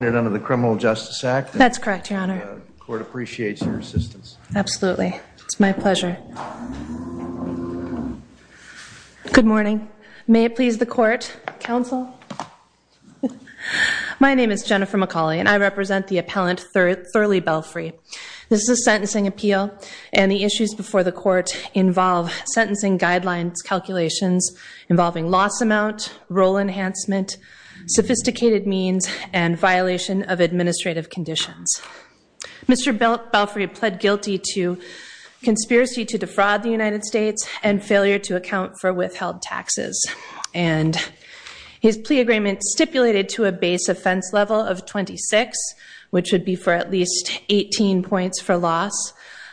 under the Criminal Justice Act? That's correct, your honor. The court appreciates your assistance. Absolutely, it's my pleasure. Good morning. May it please the court, counsel. My name is Jennifer McCauley and I represent the appellant Thurlee Belfrey. This is a sentencing appeal and the issues before the court involve sentencing guidelines calculations involving loss amount, role enhancement, sophisticated means, and violation of administrative conditions. Mr. Belfrey pled guilty to conspiracy to defraud the United States and failure to account for withheld taxes and his plea agreement stipulated to a base offense level of 26, which would be for at least 18 points for loss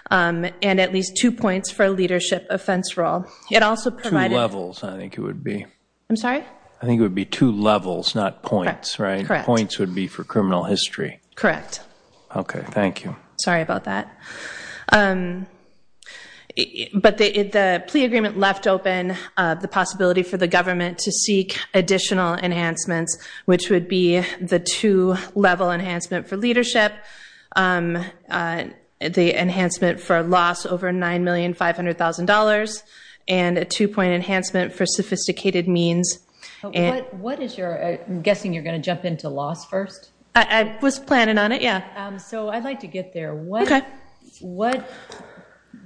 and at least two points for leadership offense role. It also provided... Two levels, I think it would be. I'm sorry? I think it would be two levels, not points, right? Points would be for criminal history. Correct. Okay, thank you. Sorry about that. But the plea agreement left open the possibility for the government to seek additional enhancements, which would be the two-level enhancement for leadership, the enhancement for loss over $9,500,000, and a two-point enhancement for sophisticated means. What is your... I'm guessing you're going to jump into loss first? I was planning on it, yeah. So I'd like to get there.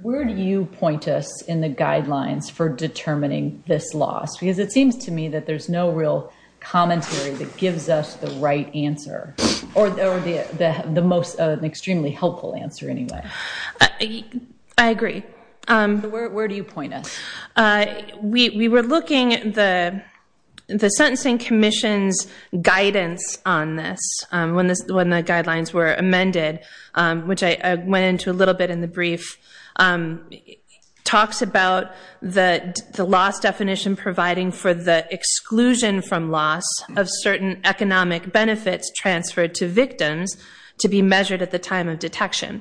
Where do you point us in the guidelines for determining this loss? Because it seems to me that there's no real commentary that gives us the right answer or the most extremely helpful answer anyway. I agree. Where do you point us? We were looking at the Sentencing Commission's guidance on this when the guidelines were amended, which I went into a little bit in the brief. Talks about the loss definition providing for the exclusion from loss of certain economic benefits transferred to victims to be measured at the time of detection.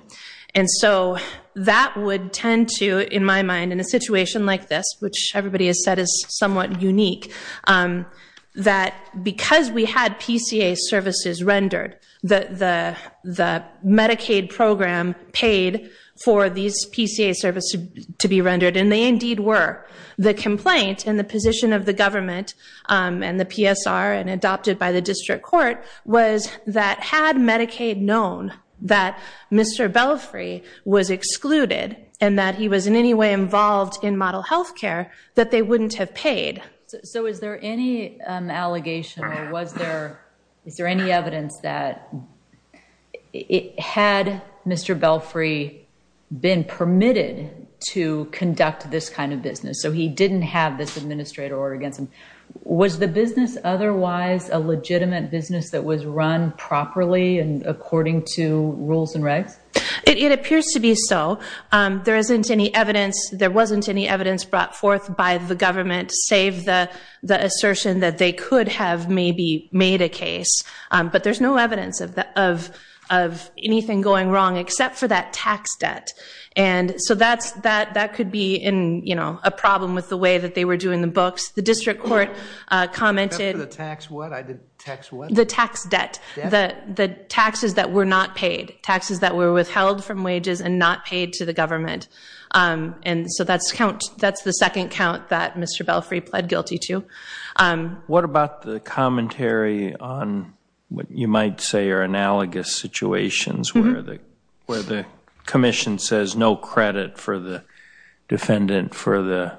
And so that would tend to, in my mind, in a situation like this, which everybody has said is somewhat unique, that because we had PCA services rendered, the Medicaid program paid for these PCA services to be rendered, and they indeed were. The complaint and the position of the government and the PSR and adopted by the district court was that had Medicaid known that Mr. Belfry was excluded and that he was in any way involved in model health care, that they wouldn't have paid. So is there any allegation or is there any evidence that had Mr. Belfry been permitted to conduct this kind of business, so he didn't have this administrative order against him, was the business otherwise a legitimate business that was run properly and according to rules and regs? It appears to be so. There isn't any evidence, there wasn't any evidence brought forth by the government, save the assertion that they could have maybe made a case. But there's no evidence of anything going wrong except for that tax debt. And so that could be a problem with the way that they were doing the books. The district court commented... Except for the tax what? I did tax what? The tax debt, the taxes that were not paid, taxes that were withheld from wages and not paid to the government. And so that's the second count that Mr. Belfry pled guilty to. What about the commentary on what you might say are analogous situations where the commission says no credit for the defendant for the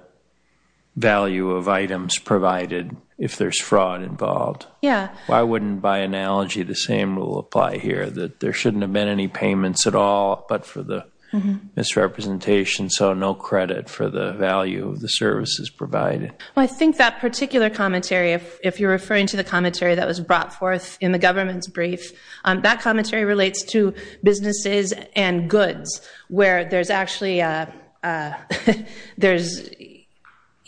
value of items provided if there's fraud involved? Yeah. Why wouldn't by analogy the same rule apply here, that there shouldn't have been any payments at all but for the misrepresentation, so no credit for the value of the services provided? Well, I think that particular commentary, if you're referring to the commentary that was brought forth in the government's brief, that commentary relates to businesses and where there's actually...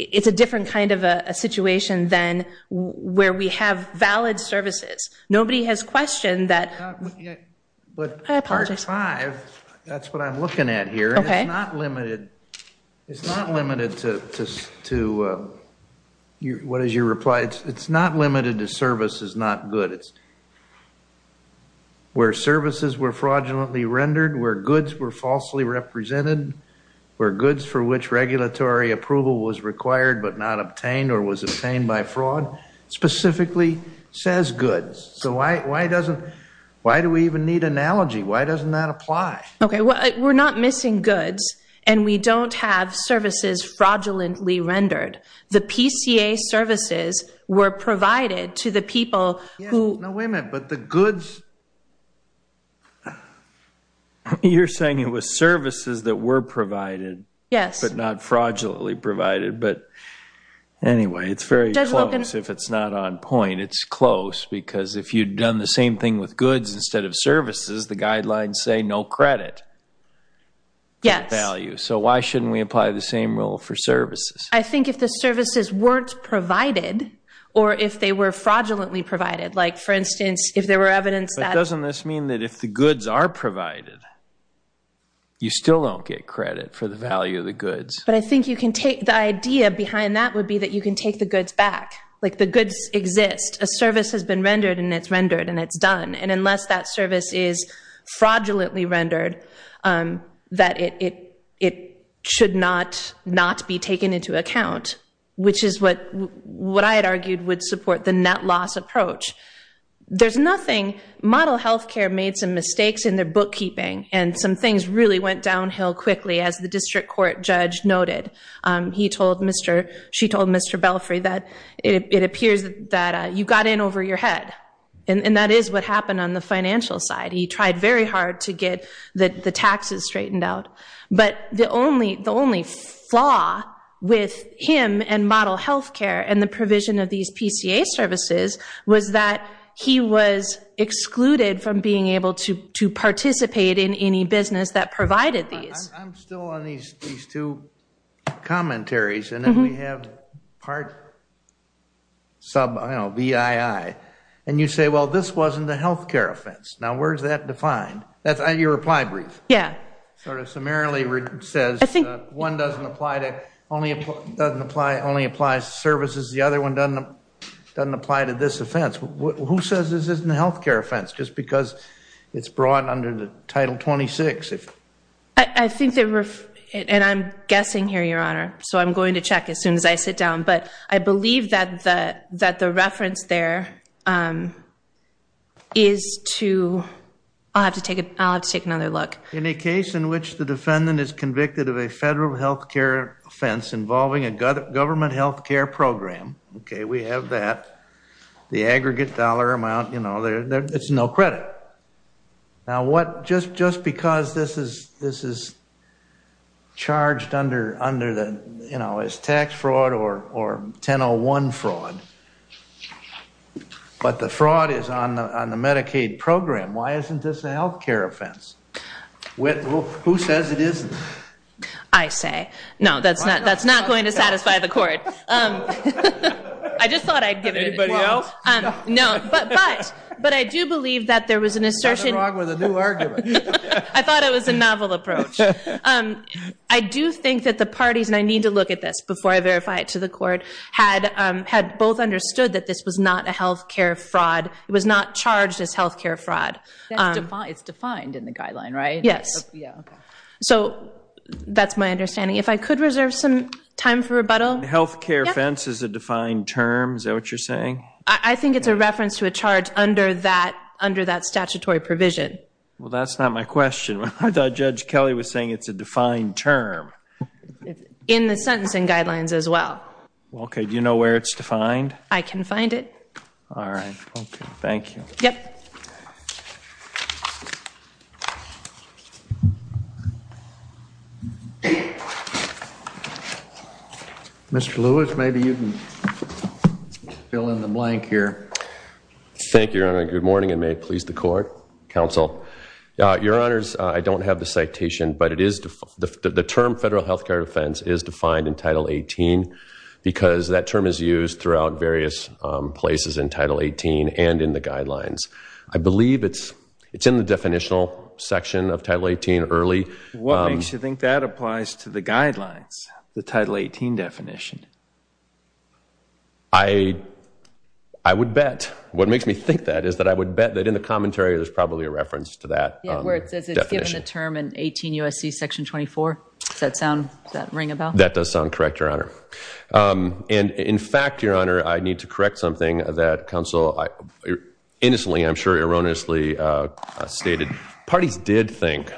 It's a different kind of a situation than where we have valid services. Nobody has questioned that... But part five, that's what I'm looking at here. OK. And it's not limited to... What is your reply? It's not limited to services not good. It's where services were fraudulently rendered, where goods were falsely represented, where goods for which regulatory approval was required but not obtained or was obtained by fraud specifically says goods. So why do we even need analogy? Why doesn't that apply? OK. We're not missing goods and we don't have services fraudulently rendered. The PCA services were provided to the people who... No, wait a minute. But the goods... You're saying it was services that were provided but not fraudulently provided. But anyway, it's very close if it's not on point. It's close because if you'd done the same thing with goods instead of services, the guidelines say no credit for the value. So why shouldn't we apply the same rule for services? I think if the services weren't provided or if they were fraudulently provided, like for instance, if there were evidence that... But doesn't this mean that if the goods are provided, you still don't get credit for the value of the goods? But I think you can take... The idea behind that would be that you can take the goods back. Like the goods exist. A service has been rendered and it's rendered and it's done. And unless that service is fraudulently rendered, that it should not be taken into account, which is what I had argued would support the net loss approach. There's nothing... Model health care made some mistakes in their bookkeeping and some things really went downhill quickly, as the district court judge noted. She told Mr. Belfry that it appears that you got in over your head. And that is what happened on the financial side. He tried very hard to get the taxes straightened out. But the only flaw with him and model health care and the provision of these PCA services was that he was excluded from being able to participate in any business that provided these. I'm still on these two commentaries. And then we have part sub, I don't know, BII. And you say, well, this wasn't a health care offense. Now, where's that defined? That's your reply brief. Yeah. Sort of summarily says one doesn't apply to... Only applies to services. The other one doesn't apply to this offense. Who says this isn't a health care offense? Just because it's brought under the Title 26. I think there were... And I'm guessing here, Your Honor. So I'm going to check as soon as I sit down. But I believe that the reference there is to... I'll have to take another look. In a case in which the defendant is convicted of a federal health care offense involving a government health care program. OK, we have that. The aggregate dollar amount, you know, it's no credit. Now, just because this is charged as tax fraud or 1001 fraud. But the fraud is on the Medicaid program. Why isn't this a health care offense? Who says it isn't? I say. No, that's not going to satisfy the court. I just thought I'd give it a try. Anybody else? No, but I do believe that there was an assertion... You got it wrong with a new argument. I thought it was a novel approach. I do think that the parties, and I need to look at this before I verify it to the court, had both understood that this was not a health care fraud. It was not charged as health care fraud. It's defined in the guideline, right? Yes. So that's my understanding. If I could reserve some time for rebuttal. Health care offense is a defined term. Is that what you're saying? I think it's a reference to a charge under that statutory provision. Well, that's not my question. I thought Judge Kelly was saying it's a defined term. In the sentencing guidelines as well. OK, do you know where it's defined? All right, thank you. Yep. Thank you. Mr. Lewis, maybe you can fill in the blank here. Thank you, Your Honor. Good morning, and may it please the court, counsel. Your Honors, I don't have the citation, but the term federal health care offense is defined in Title 18 because that term is used throughout various places in Title 18 and in the guidelines. I believe it's in the definitional section of Title 18 early. What makes you think that applies to the guidelines, the Title 18 definition? I would bet. What makes me think that is that I would bet that in the commentary, there's probably a reference to that. Yeah, where it says it's given the term in 18 U.S.C. Section 24. Does that ring a bell? That does sound correct, Your Honor. And in fact, Your Honor, I need to correct something that counsel, innocently, I'm sure erroneously stated. Parties did think,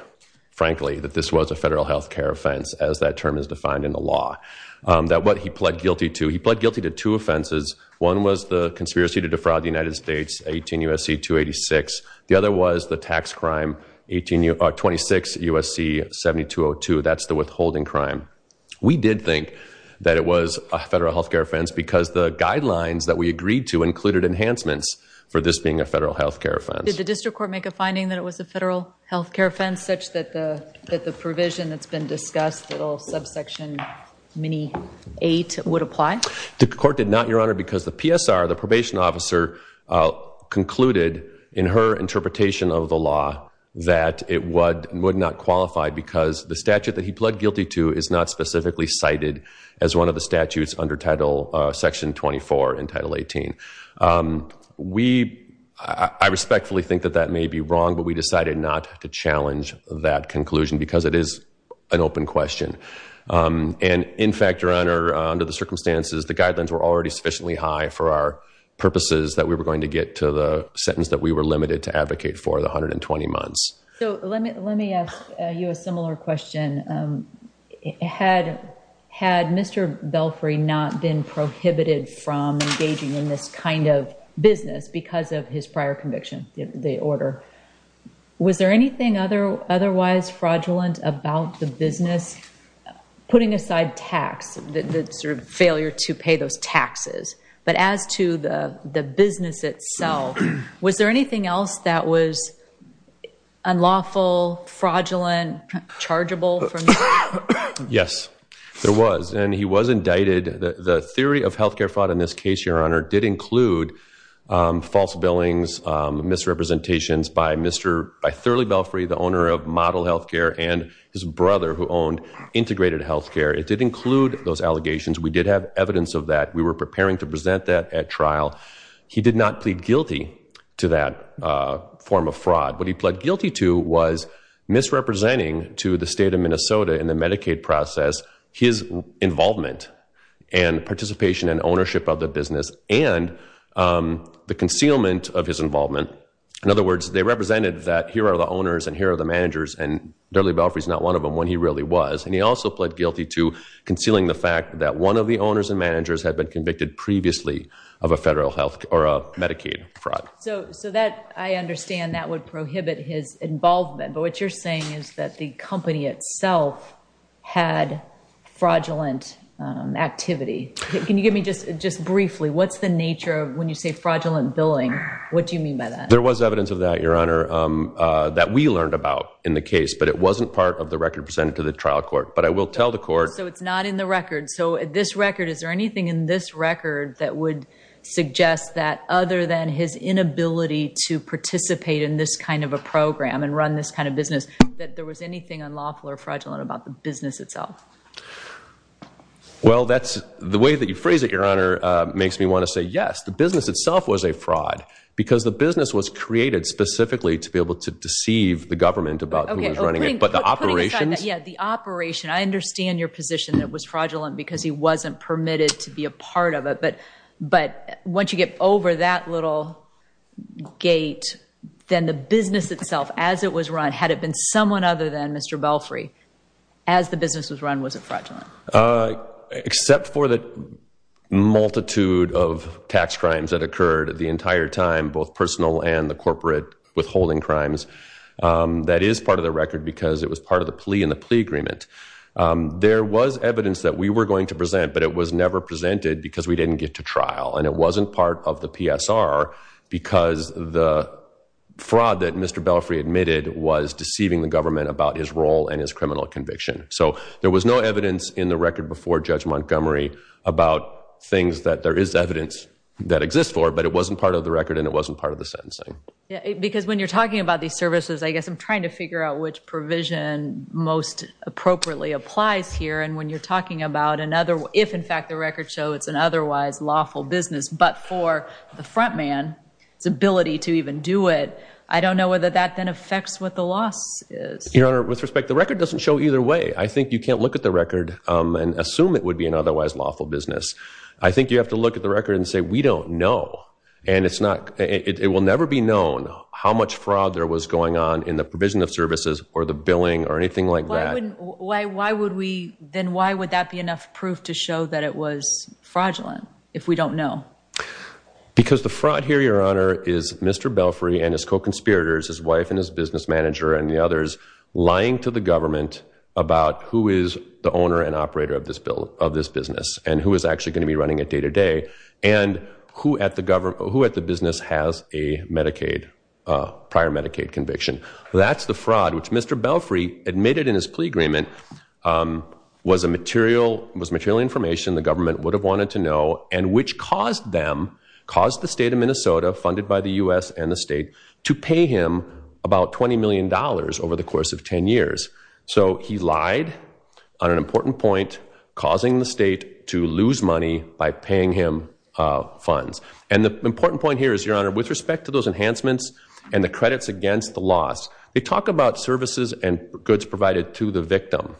frankly, that this was a federal health care offense, as that term is defined in the law. That what he pled guilty to, he pled guilty to two offenses. One was the conspiracy to defraud the United States, 18 U.S.C. 286. The other was the tax crime, 26 U.S.C. 7202. That's the withholding crime. We did think that it was a federal health care offense because the guidelines that we for this being a federal health care offense. Did the district court make a finding that it was a federal health care offense, such that the provision that's been discussed, subsection 8, would apply? The court did not, Your Honor, because the PSR, the probation officer, concluded in her interpretation of the law that it would not qualify because the statute that he pled guilty to is not specifically cited as one of the statutes under Section 24 in Title 18. I respectfully think that that may be wrong, but we decided not to challenge that conclusion because it is an open question. In fact, Your Honor, under the circumstances, the guidelines were already sufficiently high for our purposes that we were going to get to the sentence that we were limited to advocate for, the 120 months. Let me ask you a similar question. Had Mr. Belfry not been prohibited from engaging in this kind of business because of his prior conviction, the order, was there anything otherwise fraudulent about the business, putting aside tax, the sort of failure to pay those taxes? But as to the business itself, was there anything else that was Yes, there was, and he was indicted. The theory of health care fraud in this case, Your Honor, did include false billings, misrepresentations by Mr. Thurley Belfry, the owner of Model Health Care, and his brother who owned Integrated Health Care. It did include those allegations. We did have evidence of that. We were preparing to present that at trial. He did not plead guilty to that form of fraud. What he pled guilty to was misrepresenting to the state of Minnesota in the Medicaid process his involvement and participation and ownership of the business and the concealment of his involvement. In other words, they represented that here are the owners and here are the managers, and Thurley Belfry's not one of them when he really was. And he also pled guilty to concealing the fact that one of the owners and managers had been convicted previously of a federal health or a Medicaid fraud. So that I understand that would prohibit his involvement. But what you're saying is that the company itself had fraudulent activity. Can you give me just briefly, what's the nature of when you say fraudulent billing? What do you mean by that? There was evidence of that, Your Honor, that we learned about in the case, but it wasn't part of the record presented to the trial court. But I will tell the court. So it's not in the record. So this record, is there anything in this record that would suggest that other than his inability to participate in this kind of a program and run this kind of business, that there was anything unlawful or fraudulent about the business itself? Well, the way that you phrase it, Your Honor, makes me want to say yes. The business itself was a fraud. Because the business was created specifically to be able to deceive the government about who was running it. But the operations. Yeah, the operation. I understand your position that it was fraudulent because he wasn't permitted to be a part of it. But once you get over that little gate, then the business itself, as it was run, had it been someone other than Mr. Belfry, as the business was run, was it fraudulent? Except for the multitude of tax crimes that occurred the entire time, both personal and the corporate withholding crimes. That is part of the record because it was part of the plea in the plea agreement. There was evidence that we were going to present, but it was never presented because we didn't get to trial. And it wasn't part of the PSR because the fraud that Mr. Belfry admitted was deceiving the government about his role and his criminal conviction. So there was no evidence in the record before Judge Montgomery about things that there is evidence that exists for, but it wasn't part of the record and it wasn't part of the sentencing. Because when you're talking about these services, I guess I'm trying to figure out which provision most appropriately applies here. And when you're talking about another, if in fact the records show it's an otherwise lawful business, but for the front man, his ability to even do it, I don't know whether that then affects what the loss is. Your Honor, with respect, the record doesn't show either way. I think you can't look at the record and assume it would be an otherwise lawful business. I think you have to look at the record and say, we don't know. And it will never be known how much fraud there was going on in the provision of services or the billing or anything like that. Why would that be enough proof to show that it was fraudulent if we don't know? Because the fraud here, Your Honor, is Mr. Belfry and his co-conspirators, his wife and his business manager and the others, lying to the government about who is the owner and operator of this business and who is actually going to be running it day to day and who at the business has a prior Medicaid conviction. That's the fraud, which Mr. Belfry admitted in his plea agreement was material information the government would have wanted to know and which caused them, caused the state of Minnesota, funded by the US and the state, to pay him about $20 million over the course of 10 years. So he lied on an important point, causing the state to lose money by paying him funds. And the important point here is, Your Honor, with respect to those enhancements and the credits against the loss, they talk about services and goods provided to the victim.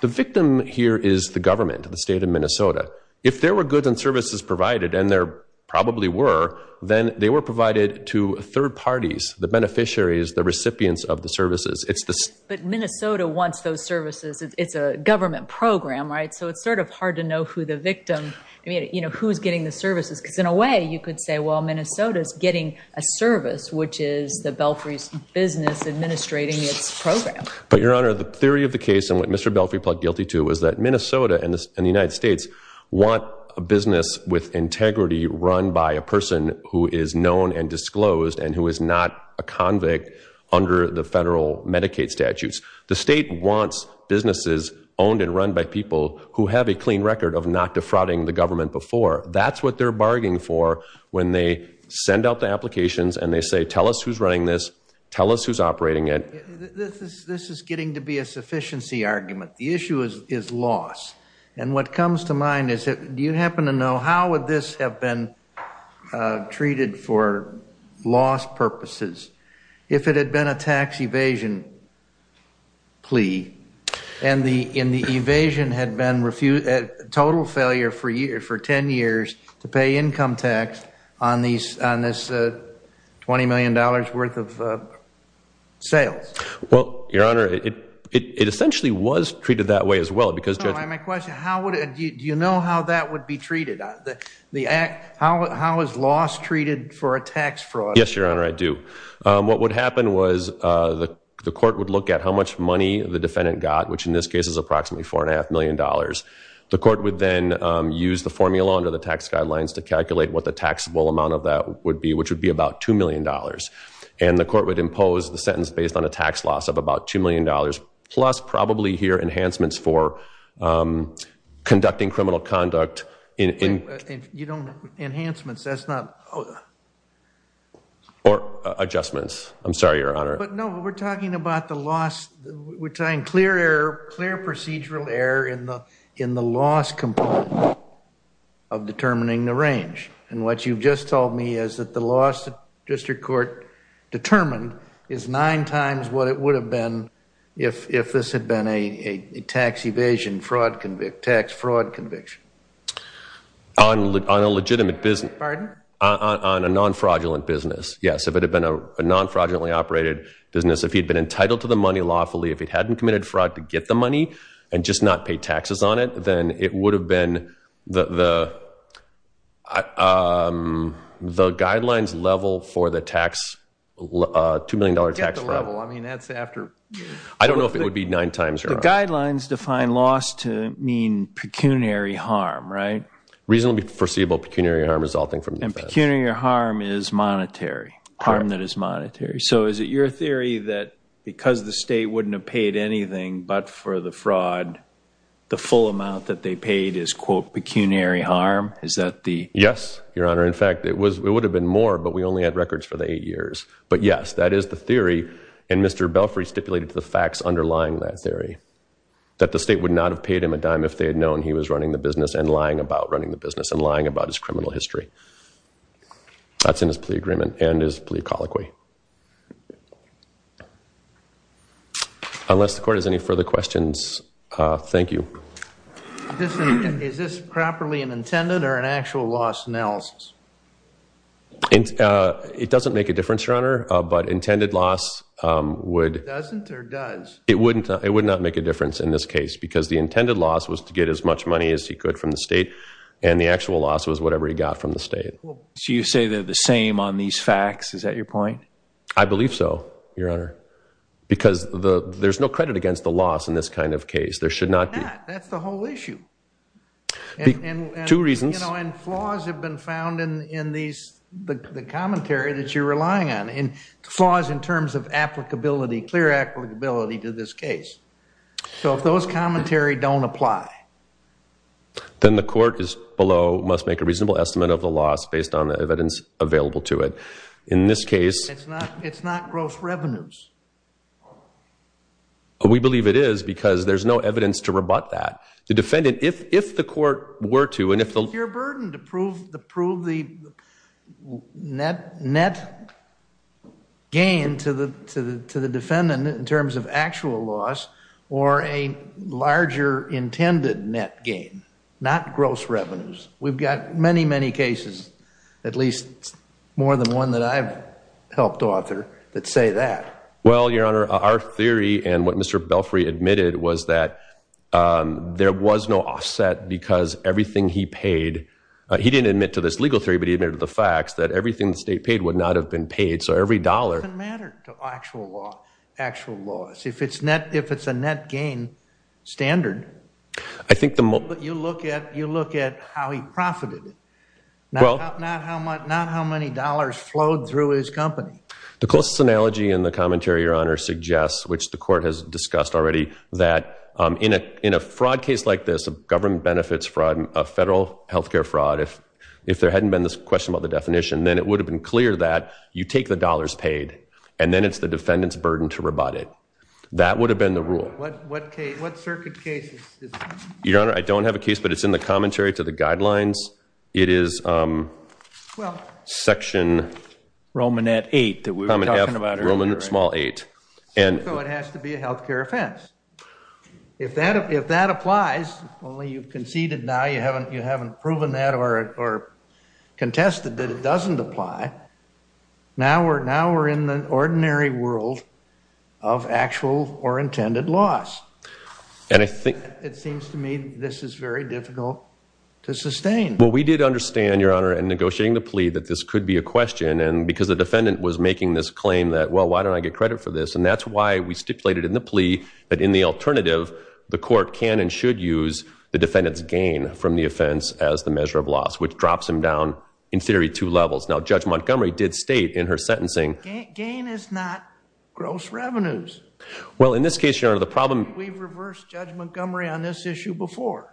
The victim here is the government, the state of Minnesota. If there were goods and services provided, and there probably were, then they were provided to third parties, the beneficiaries, the recipients of the services. But Minnesota wants those services. It's a government program, right? who's getting the services. Because in a way, you could say, well, Minnesota's getting a service, which is the Belfry's business administrating its program. But Your Honor, the theory of the case, and what Mr. Belfry pled guilty to, was that Minnesota and the United States want a business with integrity run by a person who is known and disclosed and who is not a convict under the federal Medicaid statutes. The state wants businesses owned and run by people who have a clean record of not defrauding the government before. That's what they're bargaining for when they send out the applications and they say, tell us who's running this, tell us who's operating it. This is getting to be a sufficiency argument. The issue is loss. And what comes to mind is, do you happen to know, how would this have been treated for loss purposes if it had been a tax evasion plea, and the evasion had been a total failure for 10 years to pay income tax on this $20 million worth of sales? Well, Your Honor, it essentially was treated that way as well. No, my question, do you know how that would be treated? How is loss treated for a tax fraud? Yes, Your Honor, I do. What would happen was the court would look at how much money the defendant got, which in this case is approximately $4.5 million. The court would then use the formula under the tax guidelines to calculate what the taxable amount of that would be, which would be about $2 million. And the court would impose the sentence based on a tax loss of about $2 million, plus probably here enhancements for conducting criminal conduct. Enhancements, that's not... Or adjustments. I'm sorry, Your Honor. No, we're talking about the loss. We're trying clear error, clear procedural error in the loss component of determining the range. And what you've just told me is that the loss that district court determined is nine times what it would have been if this had been a tax evasion fraud conviction, tax fraud conviction. On a legitimate business. Pardon? On a non-fraudulent business, yes. If it had been a non-fraudulently operated business, if he'd been entitled to the money lawfully, if he hadn't committed fraud to get the money and just not pay taxes on it, then it would have been the guidelines level for the tax, $2 million tax fraud. I mean, that's after... I don't know if it would be nine times, Your Honor. The guidelines define loss to mean pecuniary harm, right? Reasonably foreseeable pecuniary harm resulting from defense. And pecuniary harm is monetary. Harm that is monetary. So is it your theory that because the state wouldn't have paid anything but for the fraud, the full amount that they paid is, quote, pecuniary harm? Is that the... Yes, Your Honor. In fact, it would have been more, but we only had records for the eight years. But yes, that is the theory. And Mr. Belfry stipulated the facts underlying that theory. That the state would not have paid him a dime if they had known he was running the business and lying about running the business and lying about his criminal history. That's in his plea agreement and his plea colloquy. Unless the court has any further questions, thank you. Is this properly an intended or an actual loss analysis? It doesn't make a difference, Your Honor. But intended loss would... Doesn't or does? It would not make a difference in this case because the intended loss was to get as much money as he could from the state. And the actual loss was whatever he got from the state. So you say they're the same on these facts? Is that your point? I believe so, Your Honor. Because there's no credit against the loss in this kind of case. There should not be. That's the whole issue. Two reasons. And flaws have been found in the commentary that you're relying on. And flaws in terms of applicability, clear applicability to this case. So if those commentary don't apply... Then the court below must make a reasonable estimate of the loss based on the evidence available to it. In this case... It's not gross revenues. We believe it is because there's no evidence to rebut that. The defendant, if the court were to... It's a sheer burden to prove the net gain to the defendant in terms of actual loss or a larger intended net gain, not gross revenues. We've got many, many cases, at least more than one that I've helped author, that say that. Well, Your Honor, our theory and what Mr. Belfry admitted was that there was no offset because everything he paid... He didn't admit to this legal theory, but he admitted to the facts that everything the state paid would not have been paid. So every dollar... Doesn't matter to actual loss. If it's a net gain standard... I think the most... You look at how he profited. Not how many dollars flowed through his company. The closest analogy in the commentary, Your Honor, suggests, which the court has discussed already, that in a fraud case like this, government benefits from a federal health care fraud, if there hadn't been this question about the definition, then it would have been clear that you take the dollars paid and then it's the defendant's burden to rebut it. That would have been the rule. What circuit cases? Your Honor, I don't have a case, but it's in the commentary to the guidelines. It is section... Romanette 8 that we were talking about earlier. Romanette small 8. So it has to be a health care offense. If that applies, only you've conceded now, you haven't proven that or contested that it doesn't apply. Now we're in the ordinary world of actual or intended loss. And I think... It seems to me this is very difficult to sustain. Well, we did understand, Your Honor, in negotiating the plea that this could be a question. And because the defendant was making this claim that, well, why don't I get credit for this? And that's why we stipulated in the plea that in the alternative, the court can and should use the defendant's gain from the offense as the measure of loss, which drops him down, in theory, two levels. Now Judge Montgomery did state in her sentencing... Gain is not gross revenues. Well, in this case, Your Honor, the problem... We've reversed Judge Montgomery on this issue before.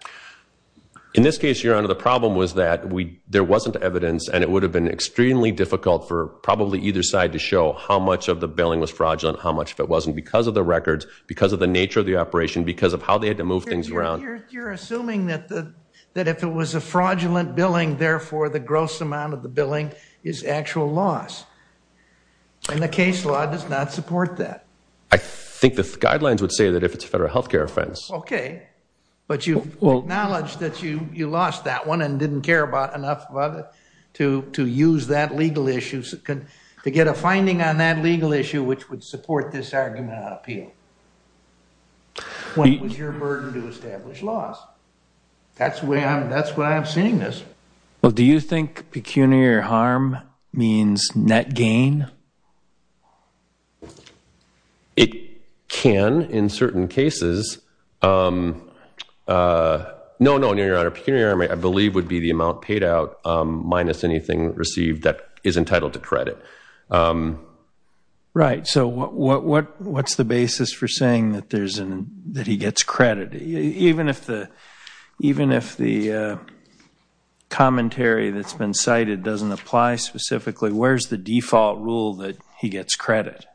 In this case, Your Honor, the problem was that there wasn't evidence and it would have been extremely difficult for probably either side to show how much of the billing was fraudulent, how much of it wasn't because of the records, because of the nature of the operation, because of how they had to move things around. You're assuming that if it was a fraudulent billing, therefore the gross amount of the billing is actual loss. And the case law does not support that. I think the guidelines would say that if it's a federal healthcare offense. Okay, but you've acknowledged that you lost that one and didn't care about enough of it to use that legal issue, to get a finding on that legal issue, which would support this argument of appeal. When was your burden to establish loss? That's why I'm saying this. Do you think pecuniary harm means net gain? It can, in certain cases. No, no, Your Honor, pecuniary harm, I believe, would be the amount paid out minus anything received that is entitled to credit. Right, so what's the basis for saying that he gets credit? Even if the commentary that's been cited doesn't apply specifically, where's the default rule that says he gets credit?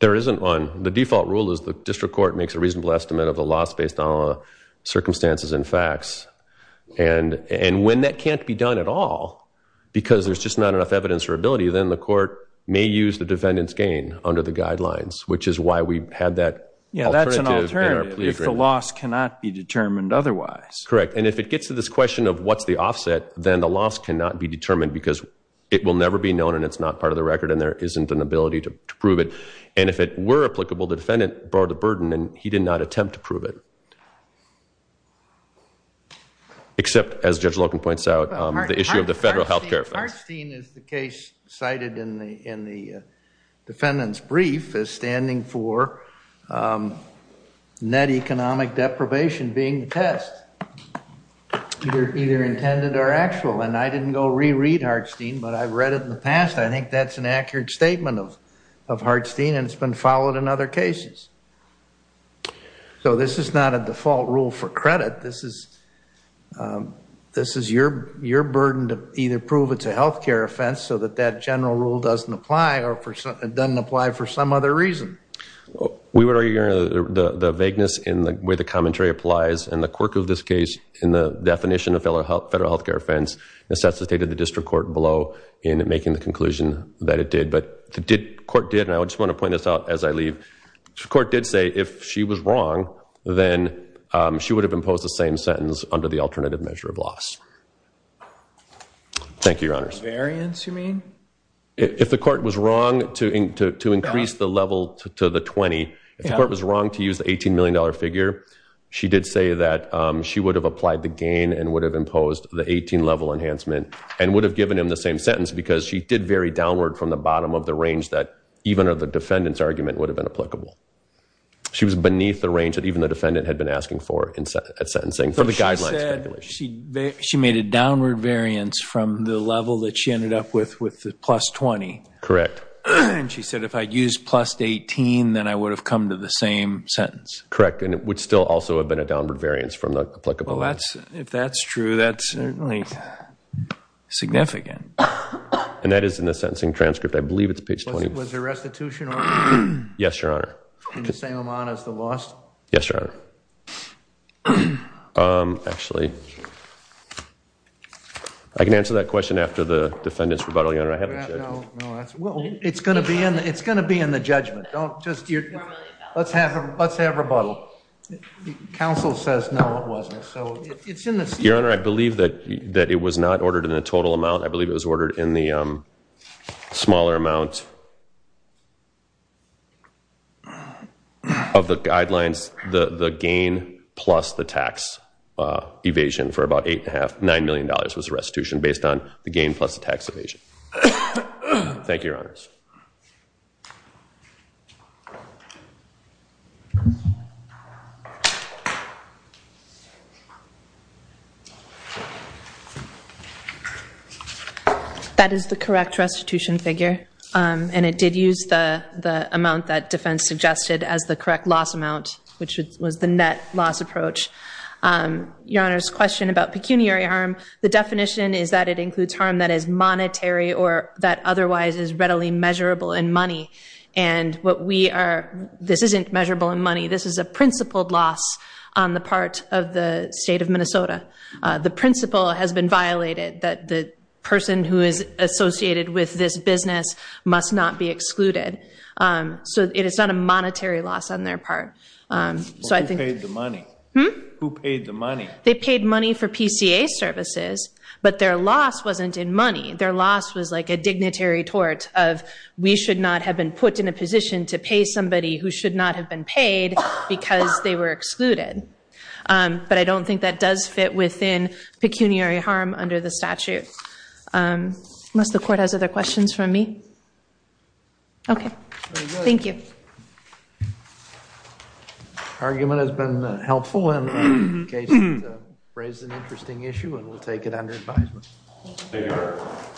There isn't one. The default rule is the district court makes a reasonable estimate of the loss based on circumstances and facts. And when that can't be done at all, because there's just not enough evidence or ability, then the court may use the defendant's gain under the guidelines, which is why we had that alternative. Yeah, that's an alternative, if the loss cannot be determined otherwise. Correct, and if it gets to this question of what's the offset, then the loss cannot be determined because it will never be known and it's not part of the record and there isn't an ability to prove it. And if it were applicable, the defendant bore the burden and he did not attempt to prove it. Except, as Judge Loken points out, the issue of the federal health care. Hartstein is the case cited in the defendant's brief as standing for net economic deprivation being the test, either intended or actual. And I didn't go reread Hartstein, but I've read it in the past. I think that's an accurate statement of Hartstein and it's been followed in other cases. So this is not a default rule for credit. This is your burden to either prove it's a health care offense so that that general rule doesn't apply or it doesn't apply for some other reason. We would argue the vagueness in the way the commentary applies and the quirk of this case in the definition of federal health care offense necessitated the district court blow in making the conclusion that it did. But the court did, and I just want to point this out as I leave, the court did say if she was wrong, then she would have imposed the same sentence under the alternative measure of loss. Thank you, your honors. Variance, you mean? If the court was wrong to increase the level to the 20, if the court was wrong to use the $18 million figure, she did say that she would have applied the gain and would have imposed the 18-level enhancement and would have given him the same sentence because she did vary downward from the bottom of the range that even the defendant's argument would have been applicable. She was beneath the range that even the defendant had been asking for at sentencing. So she said she made a downward variance from the level that she ended up with, with the plus 20. Correct. And she said if I'd used plus 18, then I would have come to the same sentence. Correct. And it would still also have been a downward variance from the applicable. Well, if that's true, that's certainly significant. And that is in the sentencing transcript. I believe it's page 20. Was there restitution on it? Yes, your honor. In the same amount as the loss? Yes, your honor. Actually, I can answer that question after the defendant's rebuttal, your honor. I haven't said. It's going to be in the judgment. Let's have rebuttal. Counsel says no, it wasn't. So it's in the statement. Your honor, I believe that it was not ordered in the total amount. I believe it was ordered in the smaller amount of the guidelines, the gain plus the tax evasion for about $8.5 million, $9 million was restitution based on the gain plus the tax evasion. Thank you, your honors. That is the correct restitution figure. And it did use the amount that defense suggested as the correct loss amount, which was the net loss approach. Your honor's question about pecuniary harm, the definition is that it includes harm that is monetary or that otherwise is readily measurable in money. And what we are, this isn't measurable in money. This is a principled loss on the part of the state of Minnesota. The principle has been violated that the person who is associated with this business must not be excluded. So it is not a monetary loss on their part. Who paid the money? Who paid the money? They paid money for PCA services, but their loss wasn't in money. Their loss was like a dignitary tort of, we should not have been put in a position to pay somebody who should not have been paid because they were excluded. But I don't think that does fit within pecuniary harm under the statute. Unless the court has other questions from me? OK. Thank you. Argument has been helpful and raised an interesting issue and we'll take it under advisement.